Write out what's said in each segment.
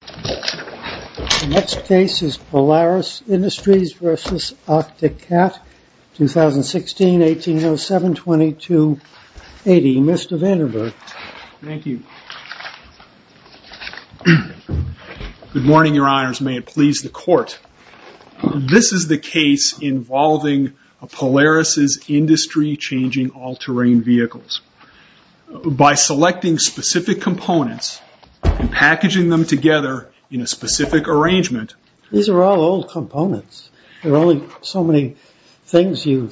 The next case is Polaris Industries v. Arctic Cat, 2016, 1807-2280. Mr. Vandenberg. Thank you. Good morning, Your Honors. May it please the Court. This is the case involving Polaris' industry-changing all-terrain vehicles. By selecting specific components and packaging them together in a specific arrangement. These are all old components. There are only so many things you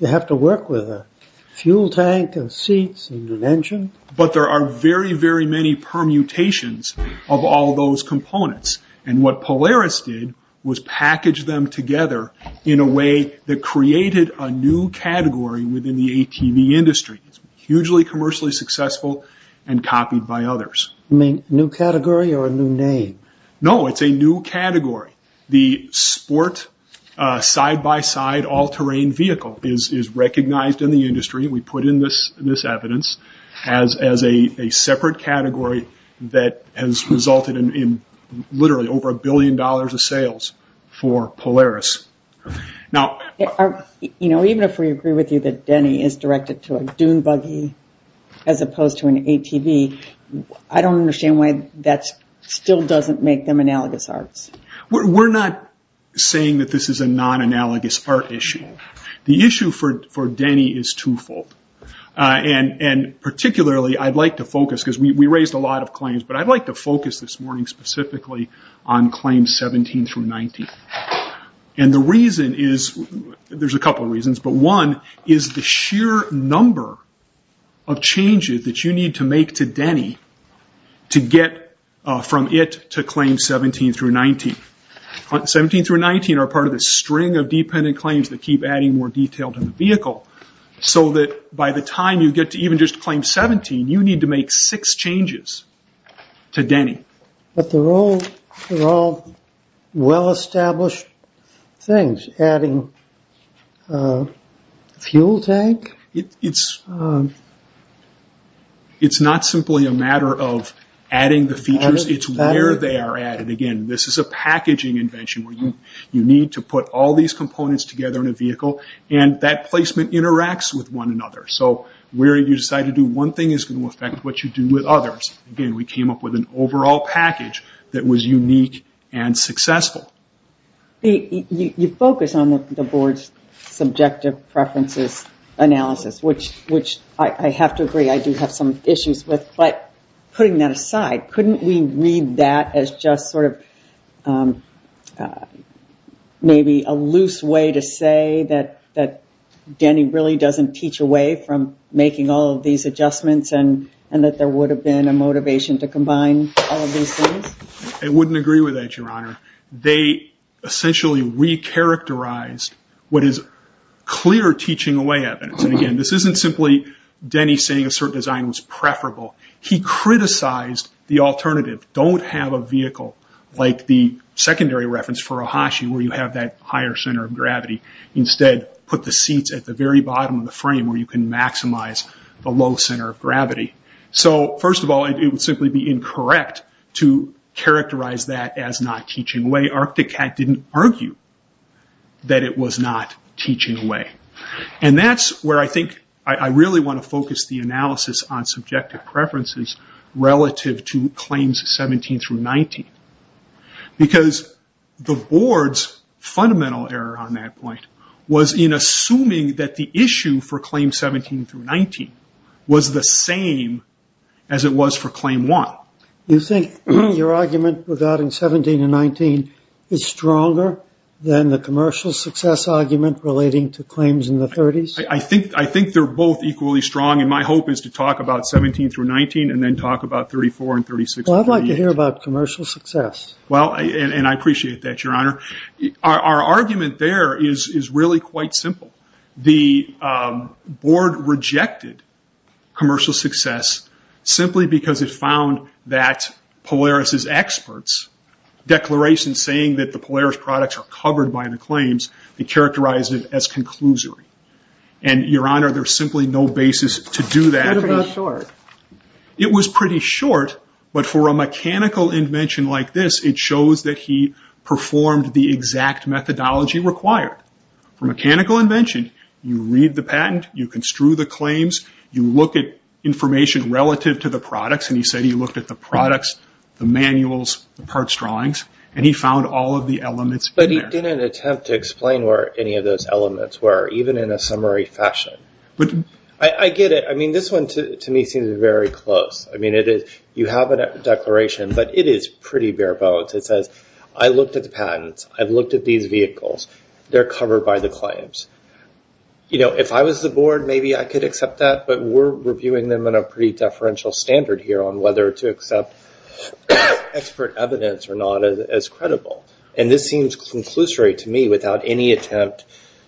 have to work with. A fuel tank and seats and an engine. But there are very, very many permutations of all those components. And what Polaris did was package them together in a way that created a new category within the ATV industry. Hugely commercially successful and copied by others. You mean a new category or a new name? No, it's a new category. The sport side-by-side all-terrain vehicle is recognized in the industry. We put in this evidence as a separate category that has resulted in literally over a billion dollars of sales for Polaris. Even if we agree with you that Denny is directed to a dune buggy as opposed to an ATV, I don't understand why that still doesn't make them analogous arts. We're not saying that this is a non-analogous art issue. The issue for Denny is two-fold. And particularly I'd like to focus, because we raised a lot of claims, but I'd like to focus this morning specifically on claims 17 through 19. And the reason is, there's a couple of reasons, but one is the sheer number of changes that you need to make to Denny to get from it to claims 17 through 19. 17 through 19 are part of the string of dependent claims that keep adding more detail to the vehicle, so that by the time you get to even just claim 17, you need to make six changes to Denny. But they're all well-established things. Adding a fuel tank? It's not simply a matter of adding the features, it's where they are added. And again, this is a packaging invention where you need to put all these components together in a vehicle, and that placement interacts with one another. So where you decide to do one thing is going to affect what you do with others. Again, we came up with an overall package that was unique and successful. You focus on the board's subjective preferences analysis, which I have to agree I do have some issues with, but putting that aside, couldn't we read that as just sort of maybe a loose way to say that Denny really doesn't teach away from making all of these adjustments and that there would have been a motivation to combine all of these things? I wouldn't agree with that, Your Honor. They essentially re-characterized what is clear teaching away evidence. And again, this isn't simply Denny saying a certain design was preferable. He criticized the alternative. Don't have a vehicle like the secondary reference for a Hashi where you have that higher center of gravity. Instead, put the seats at the very bottom of the frame where you can maximize the low center of gravity. So first of all, it would simply be incorrect to characterize that as not teaching away. Arcticat didn't argue that it was not teaching away. And that's where I think I really want to focus the analysis on subjective preferences relative to claims 17 through 19. Because the board's fundamental error on that point was in assuming that the issue for claims 17 through 19 was the same as it was for claim 1. You think your argument regarding 17 and 19 is stronger than the commercial success argument relating to claims in the 30s? I think they're both equally strong. And my hope is to talk about 17 through 19 and then talk about 34 and 36. Well, I'd like to hear about commercial success. Well, and I appreciate that, Your Honor. Our argument there is really quite simple. The board rejected commercial success simply because it found that Polaris' experts' declaration saying that the Polaris products are covered by the claims, they characterized it as conclusory. And, Your Honor, there's simply no basis to do that. It was pretty short, but for a mechanical invention like this, it shows that he performed the exact methodology required. For mechanical invention, you read the patent, you construe the claims, you look at information relative to the products, and he said he looked at the products, the manuals, the parts drawings, and he found all of the elements in there. But he didn't attempt to explain where any of those elements were, even in a summary fashion. I get it. I mean, this one to me seems very close. I mean, you have a declaration, but it is pretty bare bones. It says, I looked at the patents. I've looked at these vehicles. They're covered by the claims. You know, if I was the board, maybe I could accept that, but we're reviewing them in a pretty deferential standard here on whether to accept expert evidence or not as credible. And this seems conclusory to me without any attempt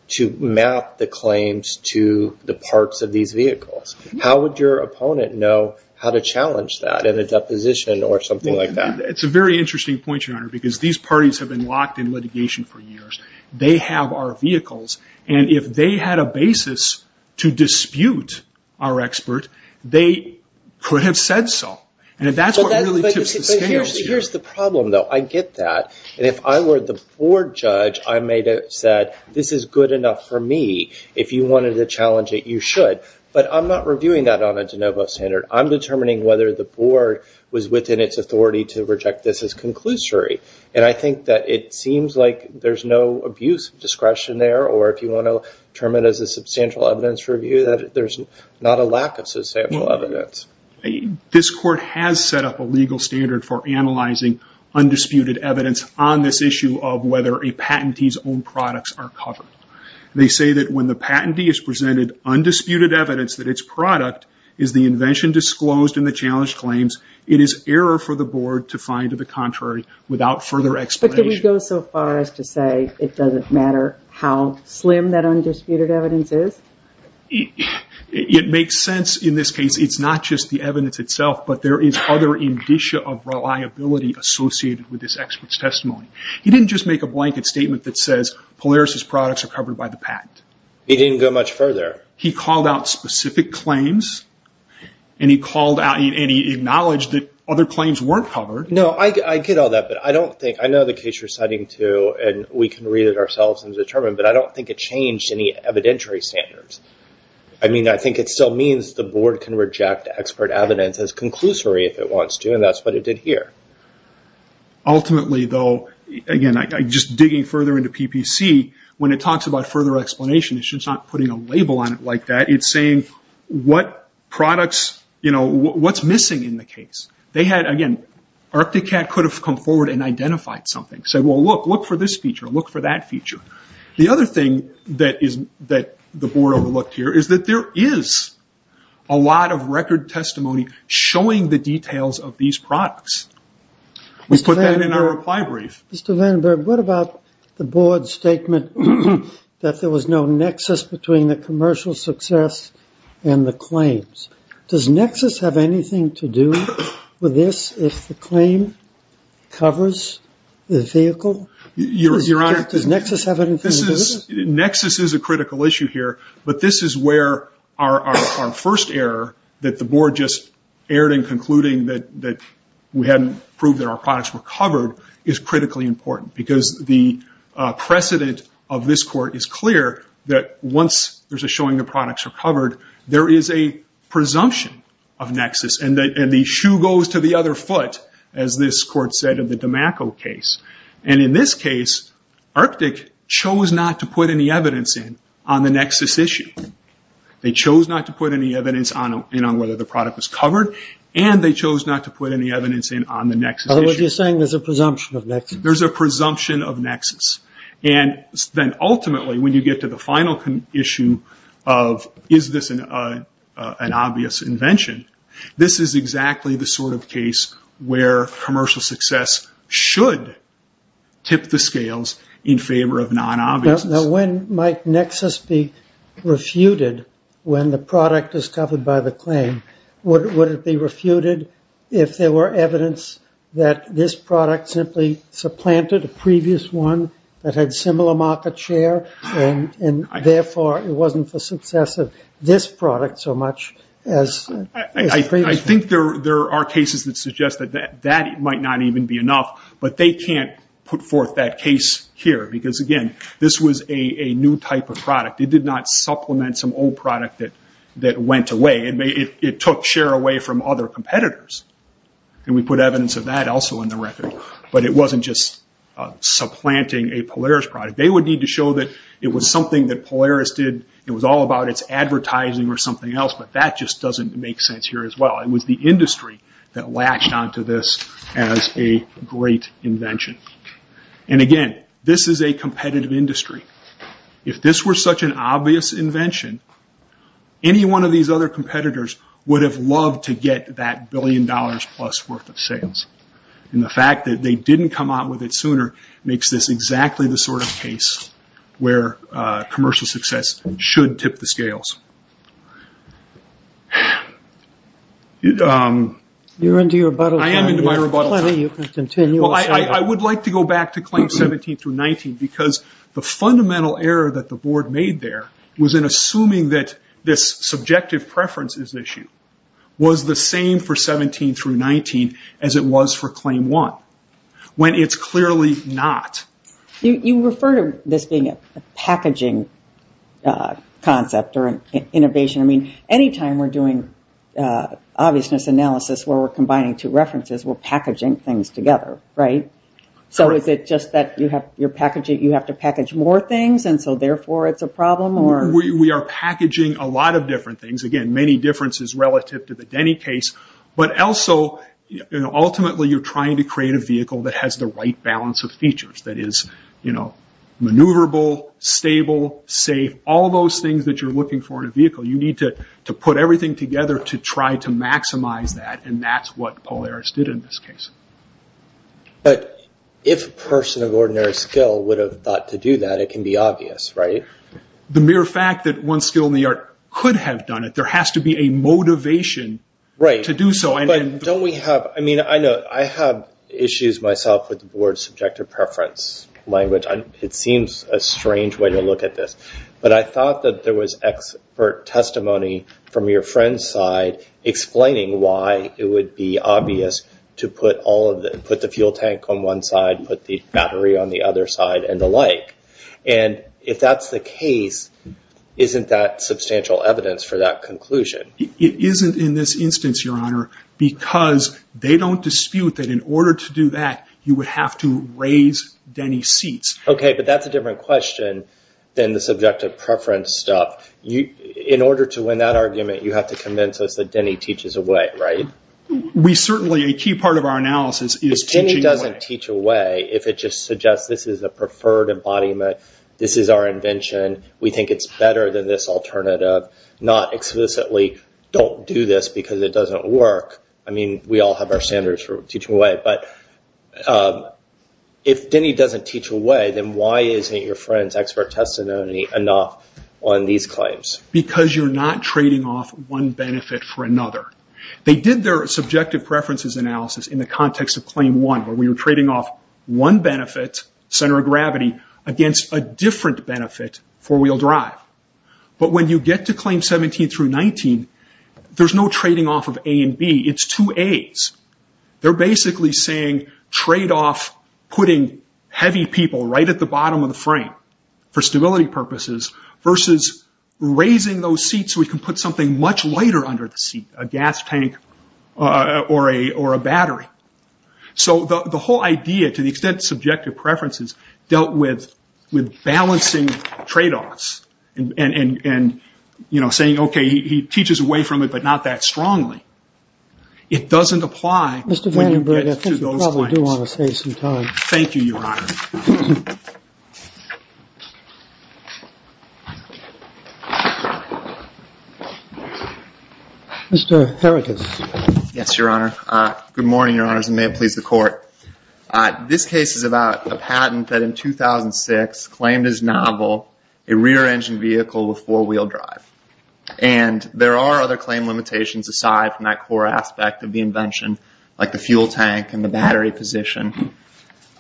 to map the claims to the parts of these vehicles. How would your opponent know how to challenge that in a deposition or something like that? It's a very interesting point, Your Honor, because these parties have been locked in litigation for years. They have our vehicles. And if they had a basis to dispute our expert, they could have said so. And that's what really tips the scales here. But here's the problem, though. I get that. And if I were the board judge, I may have said, this is good enough for me. If you wanted to challenge it, you should. But I'm not reviewing that on a de novo standard. I'm determining whether the board was within its authority to reject this as conclusory. And I think that it seems like there's no abuse of discretion there, or if you want to term it as a substantial evidence review, that there's not a lack of substantial evidence. This court has set up a legal standard for analyzing undisputed evidence on this issue of whether a patentee's own products are covered. They say that when the patentee is presented undisputed evidence that its product is the invention disclosed in the challenge claims, it is error for the board to find the contrary without further explanation. But can we go so far as to say it doesn't matter how slim that undisputed evidence is? It makes sense in this case. It's not just the evidence itself, but there is other indicia of reliability associated with this expert's testimony. He didn't just make a blanket statement that says Polaris's products are covered by the patent. He didn't go much further. He called out specific claims, and he acknowledged that other claims weren't covered. No, I get all that, but I know the case you're citing too, and we can read it ourselves and determine, but I don't think it changed any evidentiary standards. I think it still means the board can reject expert evidence as conclusory if it wants to, and that's what it did here. Ultimately, though, again, just digging further into PPC, when it talks about further explanation, it's just not putting a label on it like that. It's saying what's missing in the case. They had, again, Arcticat could have come forward and identified something, said, well, look, look for this feature, look for that feature. The other thing that the board overlooked here is that there is a lot of record testimony showing the details of these products. We put that in our reply brief. Mr. Vandenberg, what about the board's statement that there was no nexus between the commercial success and the claims? Does nexus have anything to do with this, if the claim covers the vehicle? Your Honor, this is, nexus is a critical issue here, but this is where our first error, that the board just erred in concluding that we hadn't proved that our products were covered, is critically important, because the precedent of this court is clear, that once there's a showing the products are covered, there is a presumption of nexus, and the shoe goes to the other foot, as this court said in the Dimacco case. In this case, Arctic chose not to put any evidence in on the nexus issue. They chose not to put any evidence in on whether the product was covered, and they chose not to put any evidence in on the nexus issue. In other words, you're saying there's a presumption of nexus. There's a presumption of nexus. Ultimately, when you get to the final issue of, is this an obvious invention, this is exactly the sort of case where commercial success should tip the scales in favor of non-obvious. Now, when might nexus be refuted when the product is covered by the claim? Would it be refuted if there were evidence that this product simply supplanted a previous one that had similar market share, and therefore it wasn't the success of this product so much as previous ones? I think there are cases that suggest that that might not even be enough, but they can't put forth that case here because, again, this was a new type of product. It did not supplement some old product that went away. It took share away from other competitors, and we put evidence of that also in the record, but it wasn't just supplanting a Polaris product. They would need to show that it was something that Polaris did. It was all about its advertising or something else, but that just doesn't make sense here as well. It was the industry that latched onto this as a great invention. Again, this is a competitive industry. If this were such an obvious invention, any one of these other competitors would have loved to get that billion dollars plus worth of sales. The fact that they didn't come out with it sooner makes this exactly the sort of case where commercial success should tip the scales. You're into your rebuttal time. I am into my rebuttal time. I would like to go back to claims 17 through 19 because the fundamental error that the board made there was in assuming that this subjective preferences issue was the same for 17 through 19 as it was for claim 1, when it's clearly not. You refer to this being a packaging concept or innovation. Anytime we're doing obviousness analysis where we're combining two references, we're packaging things together. Is it just that you have to package more things and so therefore it's a problem? We are packaging a lot of different things. Again, many differences relative to the Denny case, but also ultimately you're trying to create a vehicle that has the right balance of features. That is maneuverable, stable, safe, all those things that you're looking for in a vehicle. You need to put everything together to try to maximize that and that's what Polaris did in this case. If a person of ordinary skill would have thought to do that, it can be obvious, right? The mere fact that one skill in the art could have done it, there has to be a motivation to do so. I have issues myself with the board's subjective preference language. It seems a strange way to look at this. I thought that there was expert testimony from your friend's side explaining why it would be obvious to put the fuel tank on one side, put the battery on the other side and the like. If that's the case, isn't that substantial evidence for that conclusion? It isn't in this instance, Your Honor, because they don't dispute that in order to do that, you would have to raise Denny's seats. Okay, but that's a different question than the subjective preference stuff. In order to win that argument, you have to convince us that Denny teaches away, right? Certainly, a key part of our analysis is teaching away. If Denny doesn't teach away, if it just suggests this is a preferred embodiment, this is our invention, we think it's better than this alternative, not explicitly, don't do this because it doesn't work. I mean, we all have our standards for teaching away, but if Denny doesn't teach away, then why isn't your friend's expert testimony enough on these claims? Because you're not trading off one benefit for another. They did their subjective preferences analysis in the context of Claim 1, where we were trading off one benefit, center of gravity, against a different benefit, four-wheel drive. But when you get to Claim 17 through 19, there's no trading off of A and B. It's two A's. They're basically saying trade off putting heavy people right at the bottom of the frame for stability purposes versus raising those seats so we can put something much lighter under the seat, a gas tank or a battery. So the whole idea, to the extent subjective preferences, dealt with balancing trade-offs and saying, OK, he teaches away from it, but not that strongly. It doesn't apply when you get to those points. Mr. Vandenberg, I think you probably do want to save some time. Thank you, Your Honor. Mr. Herakles. Yes, Your Honor. Good morning, Your Honors, and may it please the Court. This case is about a patent that in 2006 claimed as novel a rear-engine vehicle with four-wheel drive. And there are other claim limitations aside from that core aspect of the invention, like the fuel tank and the battery position.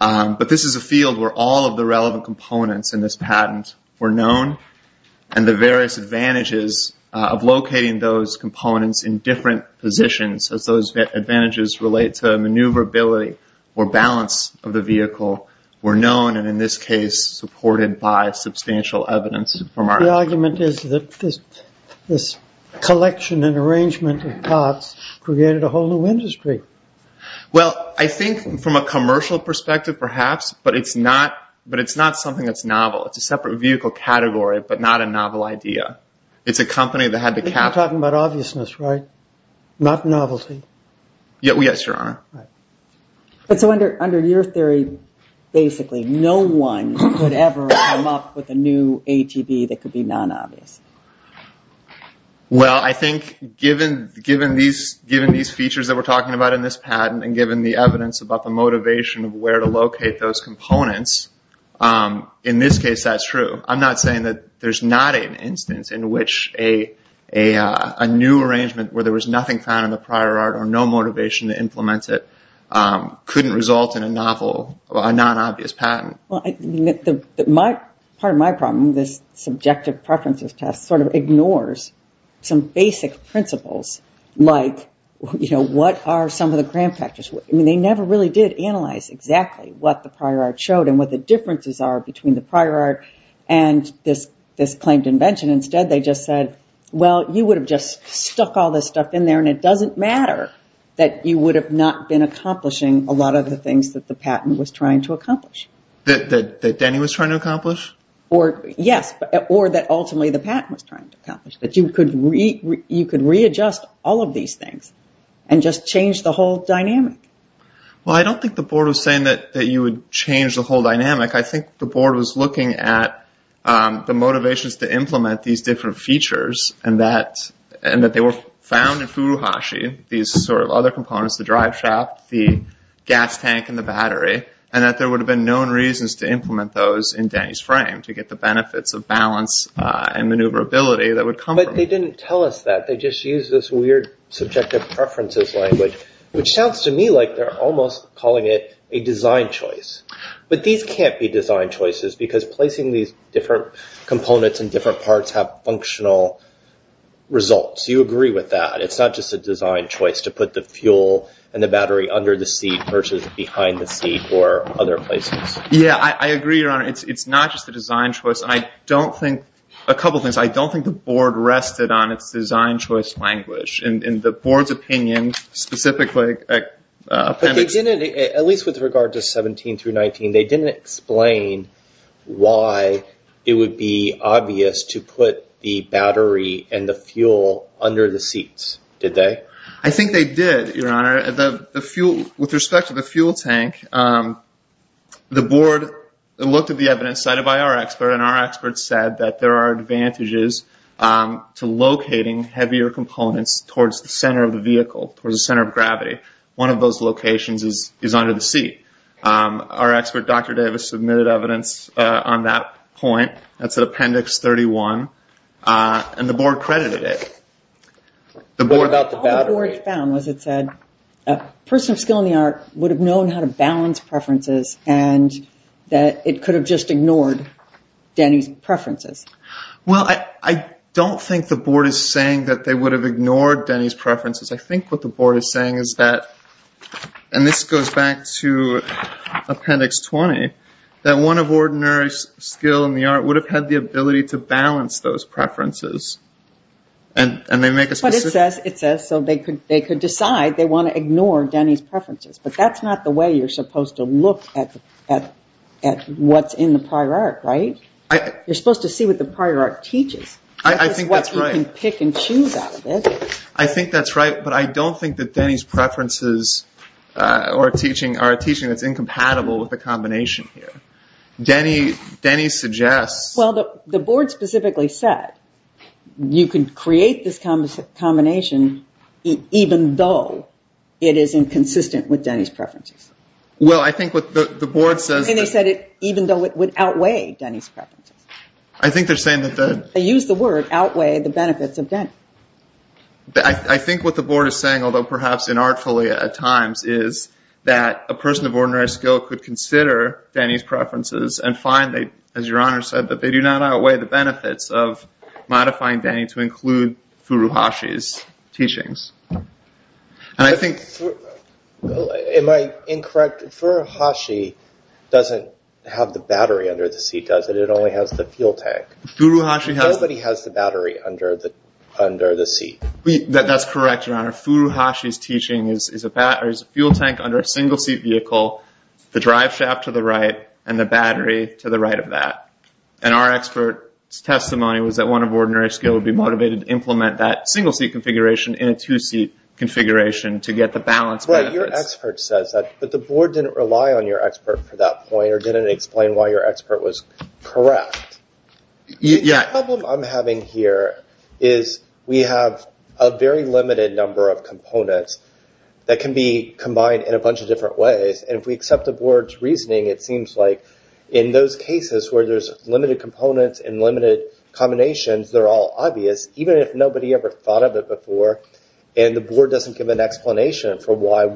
But this is a field where all of the relevant components in this patent were known and the various advantages of locating those components in different positions, as those advantages relate to maneuverability or balance of the vehicle, were known and in this case supported by substantial evidence. The argument is that this collection and arrangement of parts created a whole new industry. Well, I think from a commercial perspective, perhaps, but it's not something that's novel. It's a separate vehicle category, but not a novel idea. It's a company that had to cap it. You're talking about obviousness, right, not novelty? Yes, Your Honor. So under your theory, basically, no one could ever come up with a new ATB that could be non-obvious? Well, I think given these features that we're talking about in this patent and given the evidence about the motivation of where to locate those components, in this case that's true. I'm not saying that there's not an instance in which a new arrangement where there was nothing found in the prior art or no motivation to implement it couldn't result in a novel, a non-obvious patent. Part of my problem with this subjective preferences test sort of ignores some basic principles, like, you know, what are some of the grand factors? I mean, they never really did analyze exactly what the prior art showed and what the differences are between the prior art and this claimed invention. Instead, they just said, well, you would have just stuck all this stuff in there and it doesn't matter that you would have not been accomplishing a lot of the things that the patent was trying to accomplish. That Denny was trying to accomplish? Yes, or that ultimately the patent was trying to accomplish, that you could readjust all of these things and just change the whole dynamic? Well, I don't think the board was saying that you would change the whole dynamic. I think the board was looking at the motivations to implement these different features and that they were found in Furuhashi, these sort of other components, the driveshaft, the gas tank, and the battery, and that there would have been known reasons to implement those in Denny's frame to get the benefits of balance and maneuverability that would come from it. But they didn't tell us that. They just used this weird subjective preferences language, which sounds to me like they're almost calling it a design choice. But these can't be design choices because placing these different components in different parts have functional results. Do you agree with that? It's not just a design choice to put the fuel and the battery under the seat versus behind the seat or other places. Yeah, I agree, Your Honor. It's not just a design choice. A couple of things. I don't think the board rested on its design choice language. In the board's opinion, specifically appendix. At least with regard to 17 through 19, they didn't explain why it would be obvious to put the battery and the fuel under the seats, did they? I think they did, Your Honor. With respect to the fuel tank, the board looked at the evidence cited by our expert, and our expert said that there are advantages to locating heavier components towards the center of the vehicle, towards the center of gravity. One of those locations is under the seat. Our expert, Dr. Davis, submitted evidence on that point. That's at appendix 31, and the board credited it. All the board found was it said a person of skill in the art would have known how to balance preferences and that it could have just ignored Denny's preferences. Well, I don't think the board is saying that they would have ignored Denny's preferences. I think what the board is saying is that, and this goes back to appendix 20, that one of ordinary skill in the art would have had the ability to balance those preferences. But it says so they could decide they want to ignore Denny's preferences, but that's not the way you're supposed to look at what's in the prior art, right? You're supposed to see what the prior art teaches. I think that's right. It's what you can pick and choose out of it. I think that's right, but I don't think that Denny's preferences or teaching are a teaching that's incompatible with the combination here. Denny suggests... Well, the board specifically said you can create this combination even though it is inconsistent with Denny's preferences. Well, I think what the board says... And they said even though it would outweigh Denny's preferences. I think they're saying that the... They used the word outweigh the benefits of Denny. I think what the board is saying, although perhaps inartfully at times, is that a person of ordinary skill could consider Denny's preferences and find, as Your Honor said, that they do not outweigh the benefits of modifying Denny to include Furuhashi's teachings. And I think... Am I incorrect? Furuhashi doesn't have the battery under the seat, does it? It only has the fuel tank. Nobody has the battery under the seat. That's correct, Your Honor. Furuhashi's teaching is a fuel tank under a single-seat vehicle, the drive shaft to the right, and the battery to the right of that. And our expert's testimony was that one of ordinary skill would be motivated to implement that single-seat configuration in a two-seat configuration to get the balanced benefits. Right, your expert says that, but the board didn't rely on your expert for that point or didn't explain why your expert was correct. Yeah. The problem I'm having here is we have a very limited number of components that can be combined in a bunch of different ways. And if we accept the board's reasoning, it seems like in those cases where there's limited components and limited combinations, they're all obvious, even if nobody ever thought of it before. And the board doesn't give an explanation for why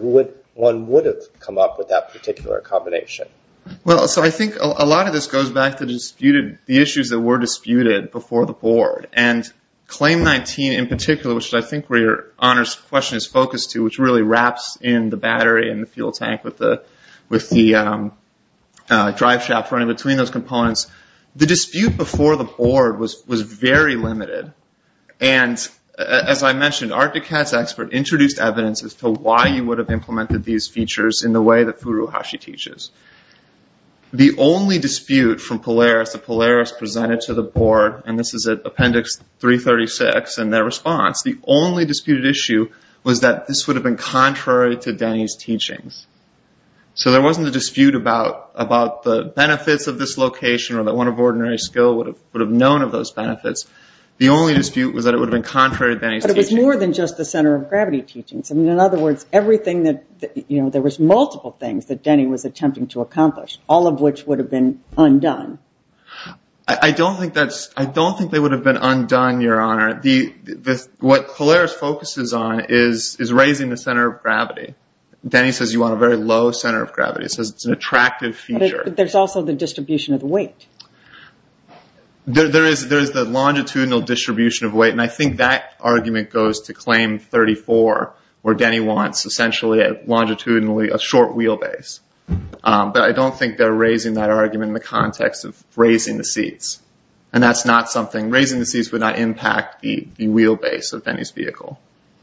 one would have come up with that particular combination. Well, so I think a lot of this goes back to the issues that were disputed before the board. And Claim 19 in particular, which I think where your honors question is focused to, which really wraps in the battery and the fuel tank with the drive shaft running between those components, the dispute before the board was very limited. And as I mentioned, our DECATS expert introduced evidence as to why you would have implemented these features in the way that Furu Hashi teaches. The only dispute from Polaris that Polaris presented to the board, and this is at Appendix 336, and their response, the only disputed issue was that this would have been contrary to Denny's teachings. So there wasn't a dispute about the benefits of this location or that one of ordinary skill would have known of those benefits. The only dispute was that it would have been contrary to Denny's teachings. But it was more than just the center of gravity teachings. In other words, everything that... There was multiple things that Denny was attempting to accomplish, all of which would have been undone. I don't think that's... What Polaris focuses on is raising the center of gravity. Denny says you want a very low center of gravity. He says it's an attractive feature. But there's also the distribution of the weight. There is the longitudinal distribution of weight, and I think that argument goes to Claim 34, where Denny wants essentially, longitudinally, a short wheelbase. But I don't think they're raising that argument in the context of raising the seats. And that's not something... Raising the seats would not impact the wheelbase of Denny's vehicle.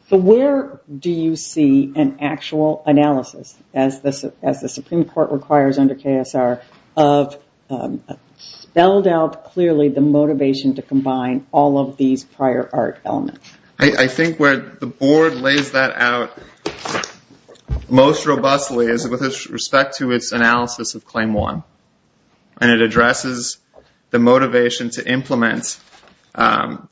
So where do you see an actual analysis, as the Supreme Court requires under KSR, of spelled out clearly the motivation to combine all of these prior art elements? I think where the board lays that out most robustly is with respect to its analysis of Claim 1. And it addresses the motivation to implement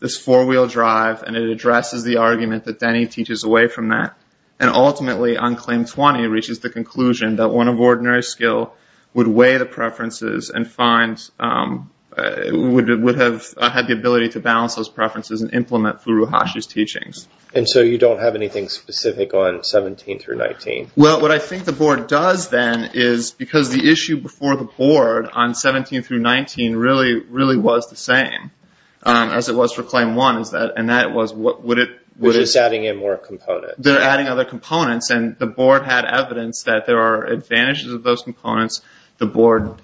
this four-wheel drive, and it addresses the argument that Denny teaches away from that. And ultimately, on Claim 20, it reaches the conclusion that one of ordinary skill would weigh the preferences and find... would have had the ability to balance those preferences and implement Furuhashi's teachings. And so you don't have anything specific on 17 through 19? Well, what I think the board does, then, is because the issue before the board on 17 through 19 really, really was the same as it was for Claim 1, and that was would it... Which is adding in more components. They're adding other components, and the board had evidence that there are advantages of those components. The board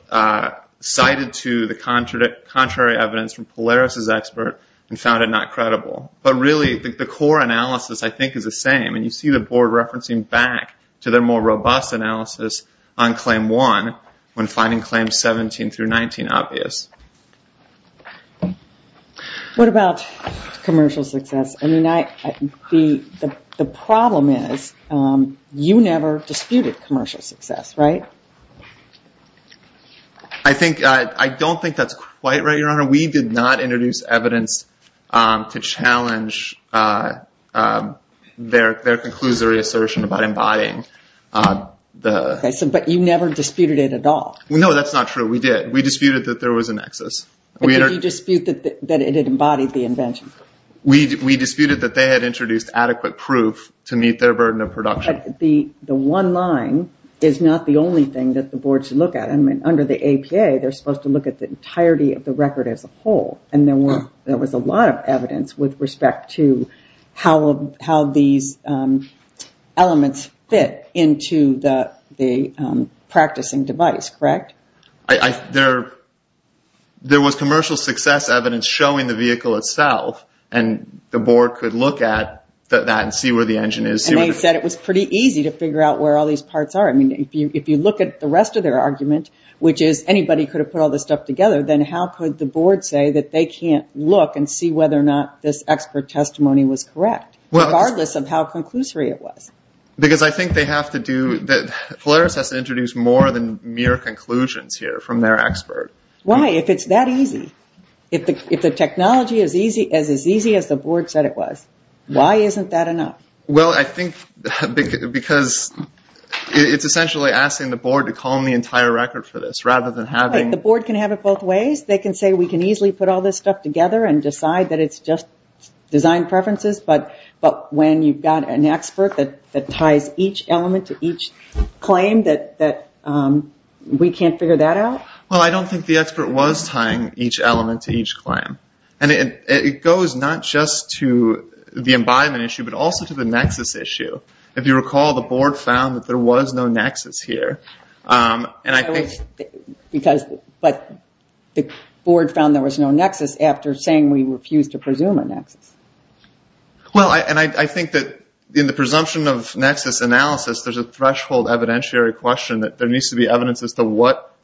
cited to the contrary evidence from Polaris's expert and found it not credible. But really, the core analysis, I think, is the same. And you see the board referencing back to their more robust analysis on Claim 1 when finding Claims 17 through 19 obvious. What about commercial success? I mean, the problem is you never disputed commercial success, right? I think... I don't think that's quite right, Your Honor. We did not introduce evidence to challenge their conclusory assertion about embodying the... But you never disputed it at all. No, that's not true. We did. We disputed that there was a nexus. But did you dispute that it had embodied the invention? We disputed that they had introduced adequate proof to meet their burden of production. But the one line is not the only thing that the board should look at. I mean, under the APA, they're supposed to look at the entirety of the record as a whole. And there was a lot of evidence with respect to how these elements fit into the practicing device, correct? There was commercial success evidence showing the vehicle itself. And the board could look at that and see where the engine is. And they said it was pretty easy to figure out where all these parts are. I mean, if you look at the rest of their argument, which is anybody could have put all this stuff together, then how could the board say that they can't look and see whether or not this expert testimony was correct, regardless of how conclusory it was? Because I think they have to do... Polaris has to introduce more than mere conclusions here from their expert. Why? If it's that easy? If the technology is as easy as the board said it was, why isn't that enough? Well, I think because it's essentially asking the board to call in the entire record for this rather than having... In some ways, they can say we can easily put all this stuff together and decide that it's just design preferences. But when you've got an expert that ties each element to each claim, that we can't figure that out? Well, I don't think the expert was tying each element to each claim. And it goes not just to the embodiment issue, but also to the nexus issue. If you recall, the board found that there was no nexus here. But the board found there was no nexus after saying we refused to presume a nexus. Well, and I think that in the presumption of nexus analysis, there's a threshold evidentiary question that there needs to be evidence as to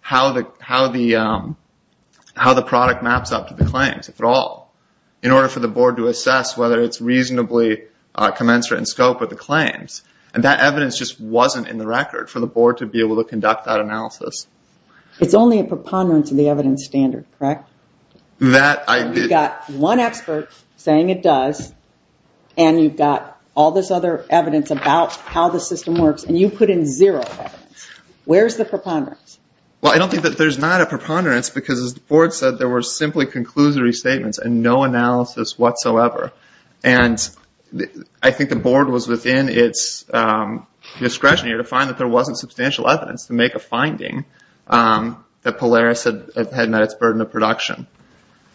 how the product maps up to the claims, if at all, in order for the board to assess whether it's reasonably commensurate in scope with the claims. And that evidence just wasn't in the record for the board to be able to conduct that analysis. It's only a preponderance of the evidence standard, correct? That I did... You've got one expert saying it does, and you've got all this other evidence about how the system works, and you put in zero evidence. Where's the preponderance? Well, I don't think that there's not a preponderance because, as the board said, there were simply conclusory statements and no analysis whatsoever. And I think the board was within its discretion here to find that there wasn't substantial evidence to make a finding that Polaris had met its burden of production.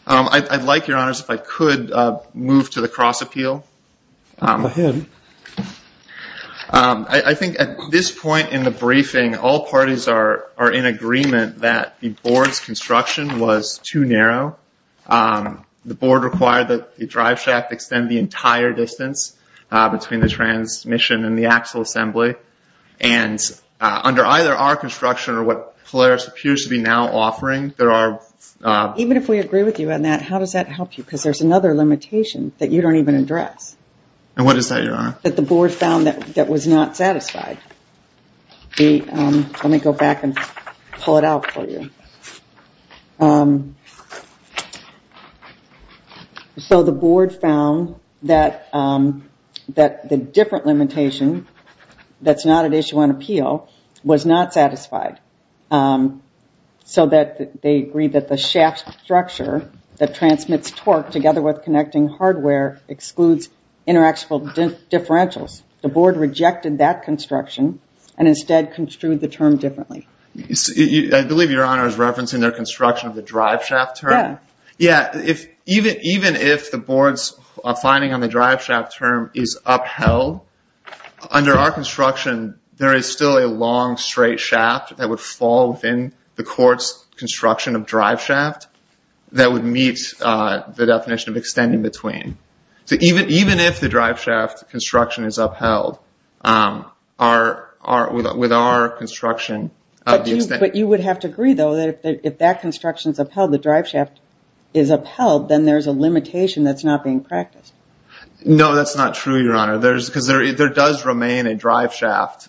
I'd like, Your Honours, if I could move to the cross-appeal. Go ahead. I think at this point in the briefing, all parties are in agreement that the board's construction was too narrow. The board required that the driveshaft extend the entire distance between the transmission and the axle assembly. And under either our construction or what Polaris appears to be now offering, there are... Even if we agree with you on that, how does that help you? Because there's another limitation that you don't even address. And what is that, Your Honour? That the board found that was not satisfied. Let me go back and pull it out for you. Um... So the board found that the different limitation that's not at issue on appeal was not satisfied. So that they agreed that the shaft structure that transmits torque together with connecting hardware excludes interactional differentials. The board rejected that construction and instead construed the term differently. I believe Your Honour is referencing their construction of the driveshaft term. Yeah. Even if the board's finding on the driveshaft term is upheld, under our construction, there is still a long straight shaft that would fall within the court's construction of driveshaft that would meet the definition of extending between. So even if the driveshaft construction is upheld, with our construction... But you would have to agree, though, that if that construction's upheld, the driveshaft is upheld, then there's a limitation that's not being practiced. No, that's not true, Your Honour. Because there does remain a driveshaft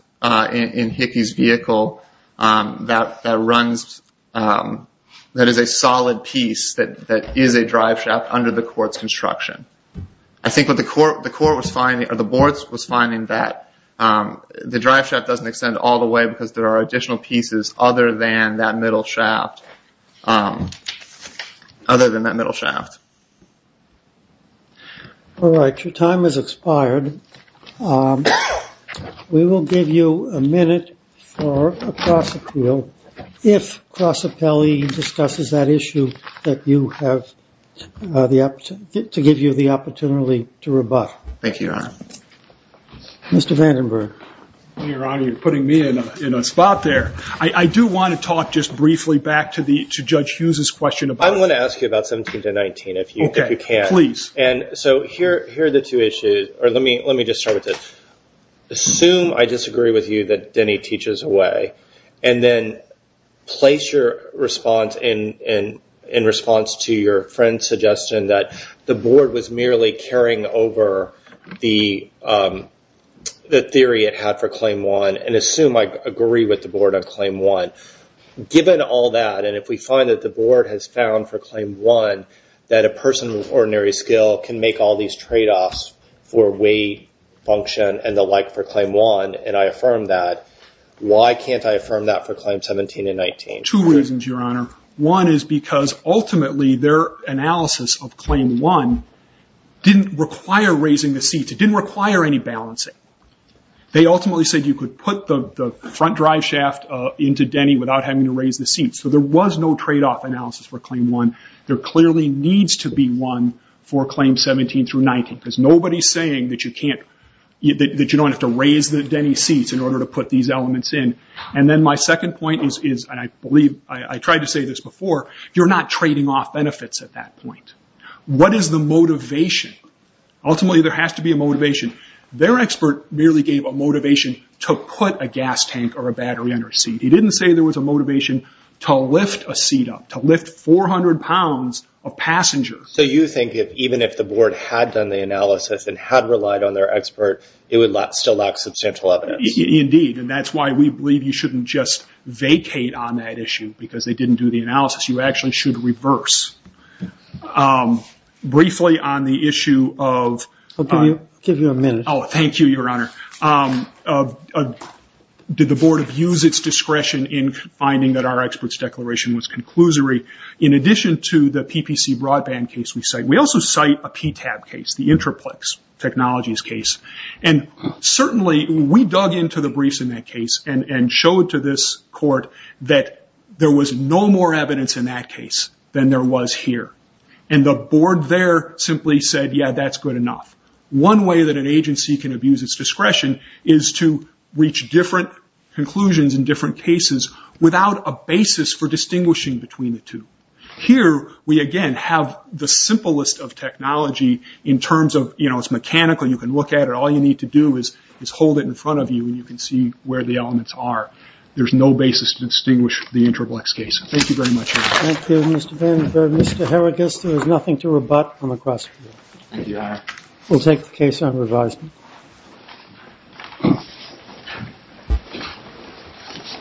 in Hickey's vehicle that runs... that is a solid piece that is a driveshaft under the court's construction. I think what the board was finding that the driveshaft doesn't extend all the way because there are additional pieces other than that middle shaft. Other than that middle shaft. All right, your time has expired. We will give you a minute for a cross-appeal if CrossAppellee discusses that issue to give you the opportunity to rebut. Thank you, Your Honour. Mr. Vandenberg. Your Honour, you're putting me in a spot there. I do want to talk just briefly back to Judge Hughes's question about... I want to ask you about 17 to 19, if you can. Okay, please. So here are the two issues. Let me just start with this. Assume I disagree with you that Denny teaches away, and then place your response in response to your friend's suggestion that the board was merely carrying over the theory it had for Claim 1, and assume I agree with the board on Claim 1. Given all that, and if we find that the board has found for Claim 1 that a person with ordinary skill can make all these trade-offs for weight, function, and the like for Claim 1, and I affirm that, why can't I affirm that for Claim 17 and 19? Two reasons, Your Honour. One is because ultimately their analysis of Claim 1 didn't require raising the seats. It didn't require any balancing. They ultimately said you could put the front drive shaft into Denny without having to raise the seats. So there was no trade-off analysis for Claim 1. There clearly needs to be one for Claim 17 through 19, because nobody's saying that you can't... in order to put these elements in. And then my second point is, and I believe I tried to say this before, you're not trading off benefits at that point. What is the motivation? Ultimately there has to be a motivation. Their expert merely gave a motivation to put a gas tank or a battery under a seat. He didn't say there was a motivation to lift a seat up, to lift 400 pounds of passengers. So you think that even if the board had done the analysis and had relied on their expert, it would still lack substantial evidence. Indeed, and that's why we believe you shouldn't just vacate on that issue because they didn't do the analysis. You actually should reverse. Briefly on the issue of... I'll give you a minute. Oh, thank you, Your Honor. Did the board abuse its discretion in finding that our expert's declaration was conclusory? In addition to the PPC broadband case we cite, we also cite a PTAB case, the Intraplex Technologies case. And certainly we dug into the briefs in that case and showed to this court that there was no more evidence in that case than there was here. And the board there simply said, yeah, that's good enough. One way that an agency can abuse its discretion is to reach different conclusions in different cases without a basis for distinguishing between the two. Here, we again have the simplest of technology in terms of, you know, it's mechanical, you can look at it, all you need to do is hold it in front of you and you can see where the elements are. There's no basis to distinguish the Intraplex case. Thank you very much, Your Honor. Thank you, Mr. Van Den Berg. Mr. Herrigus, there is nothing to rebut on the cross-court. Thank you, Your Honor. We'll take the case on revised.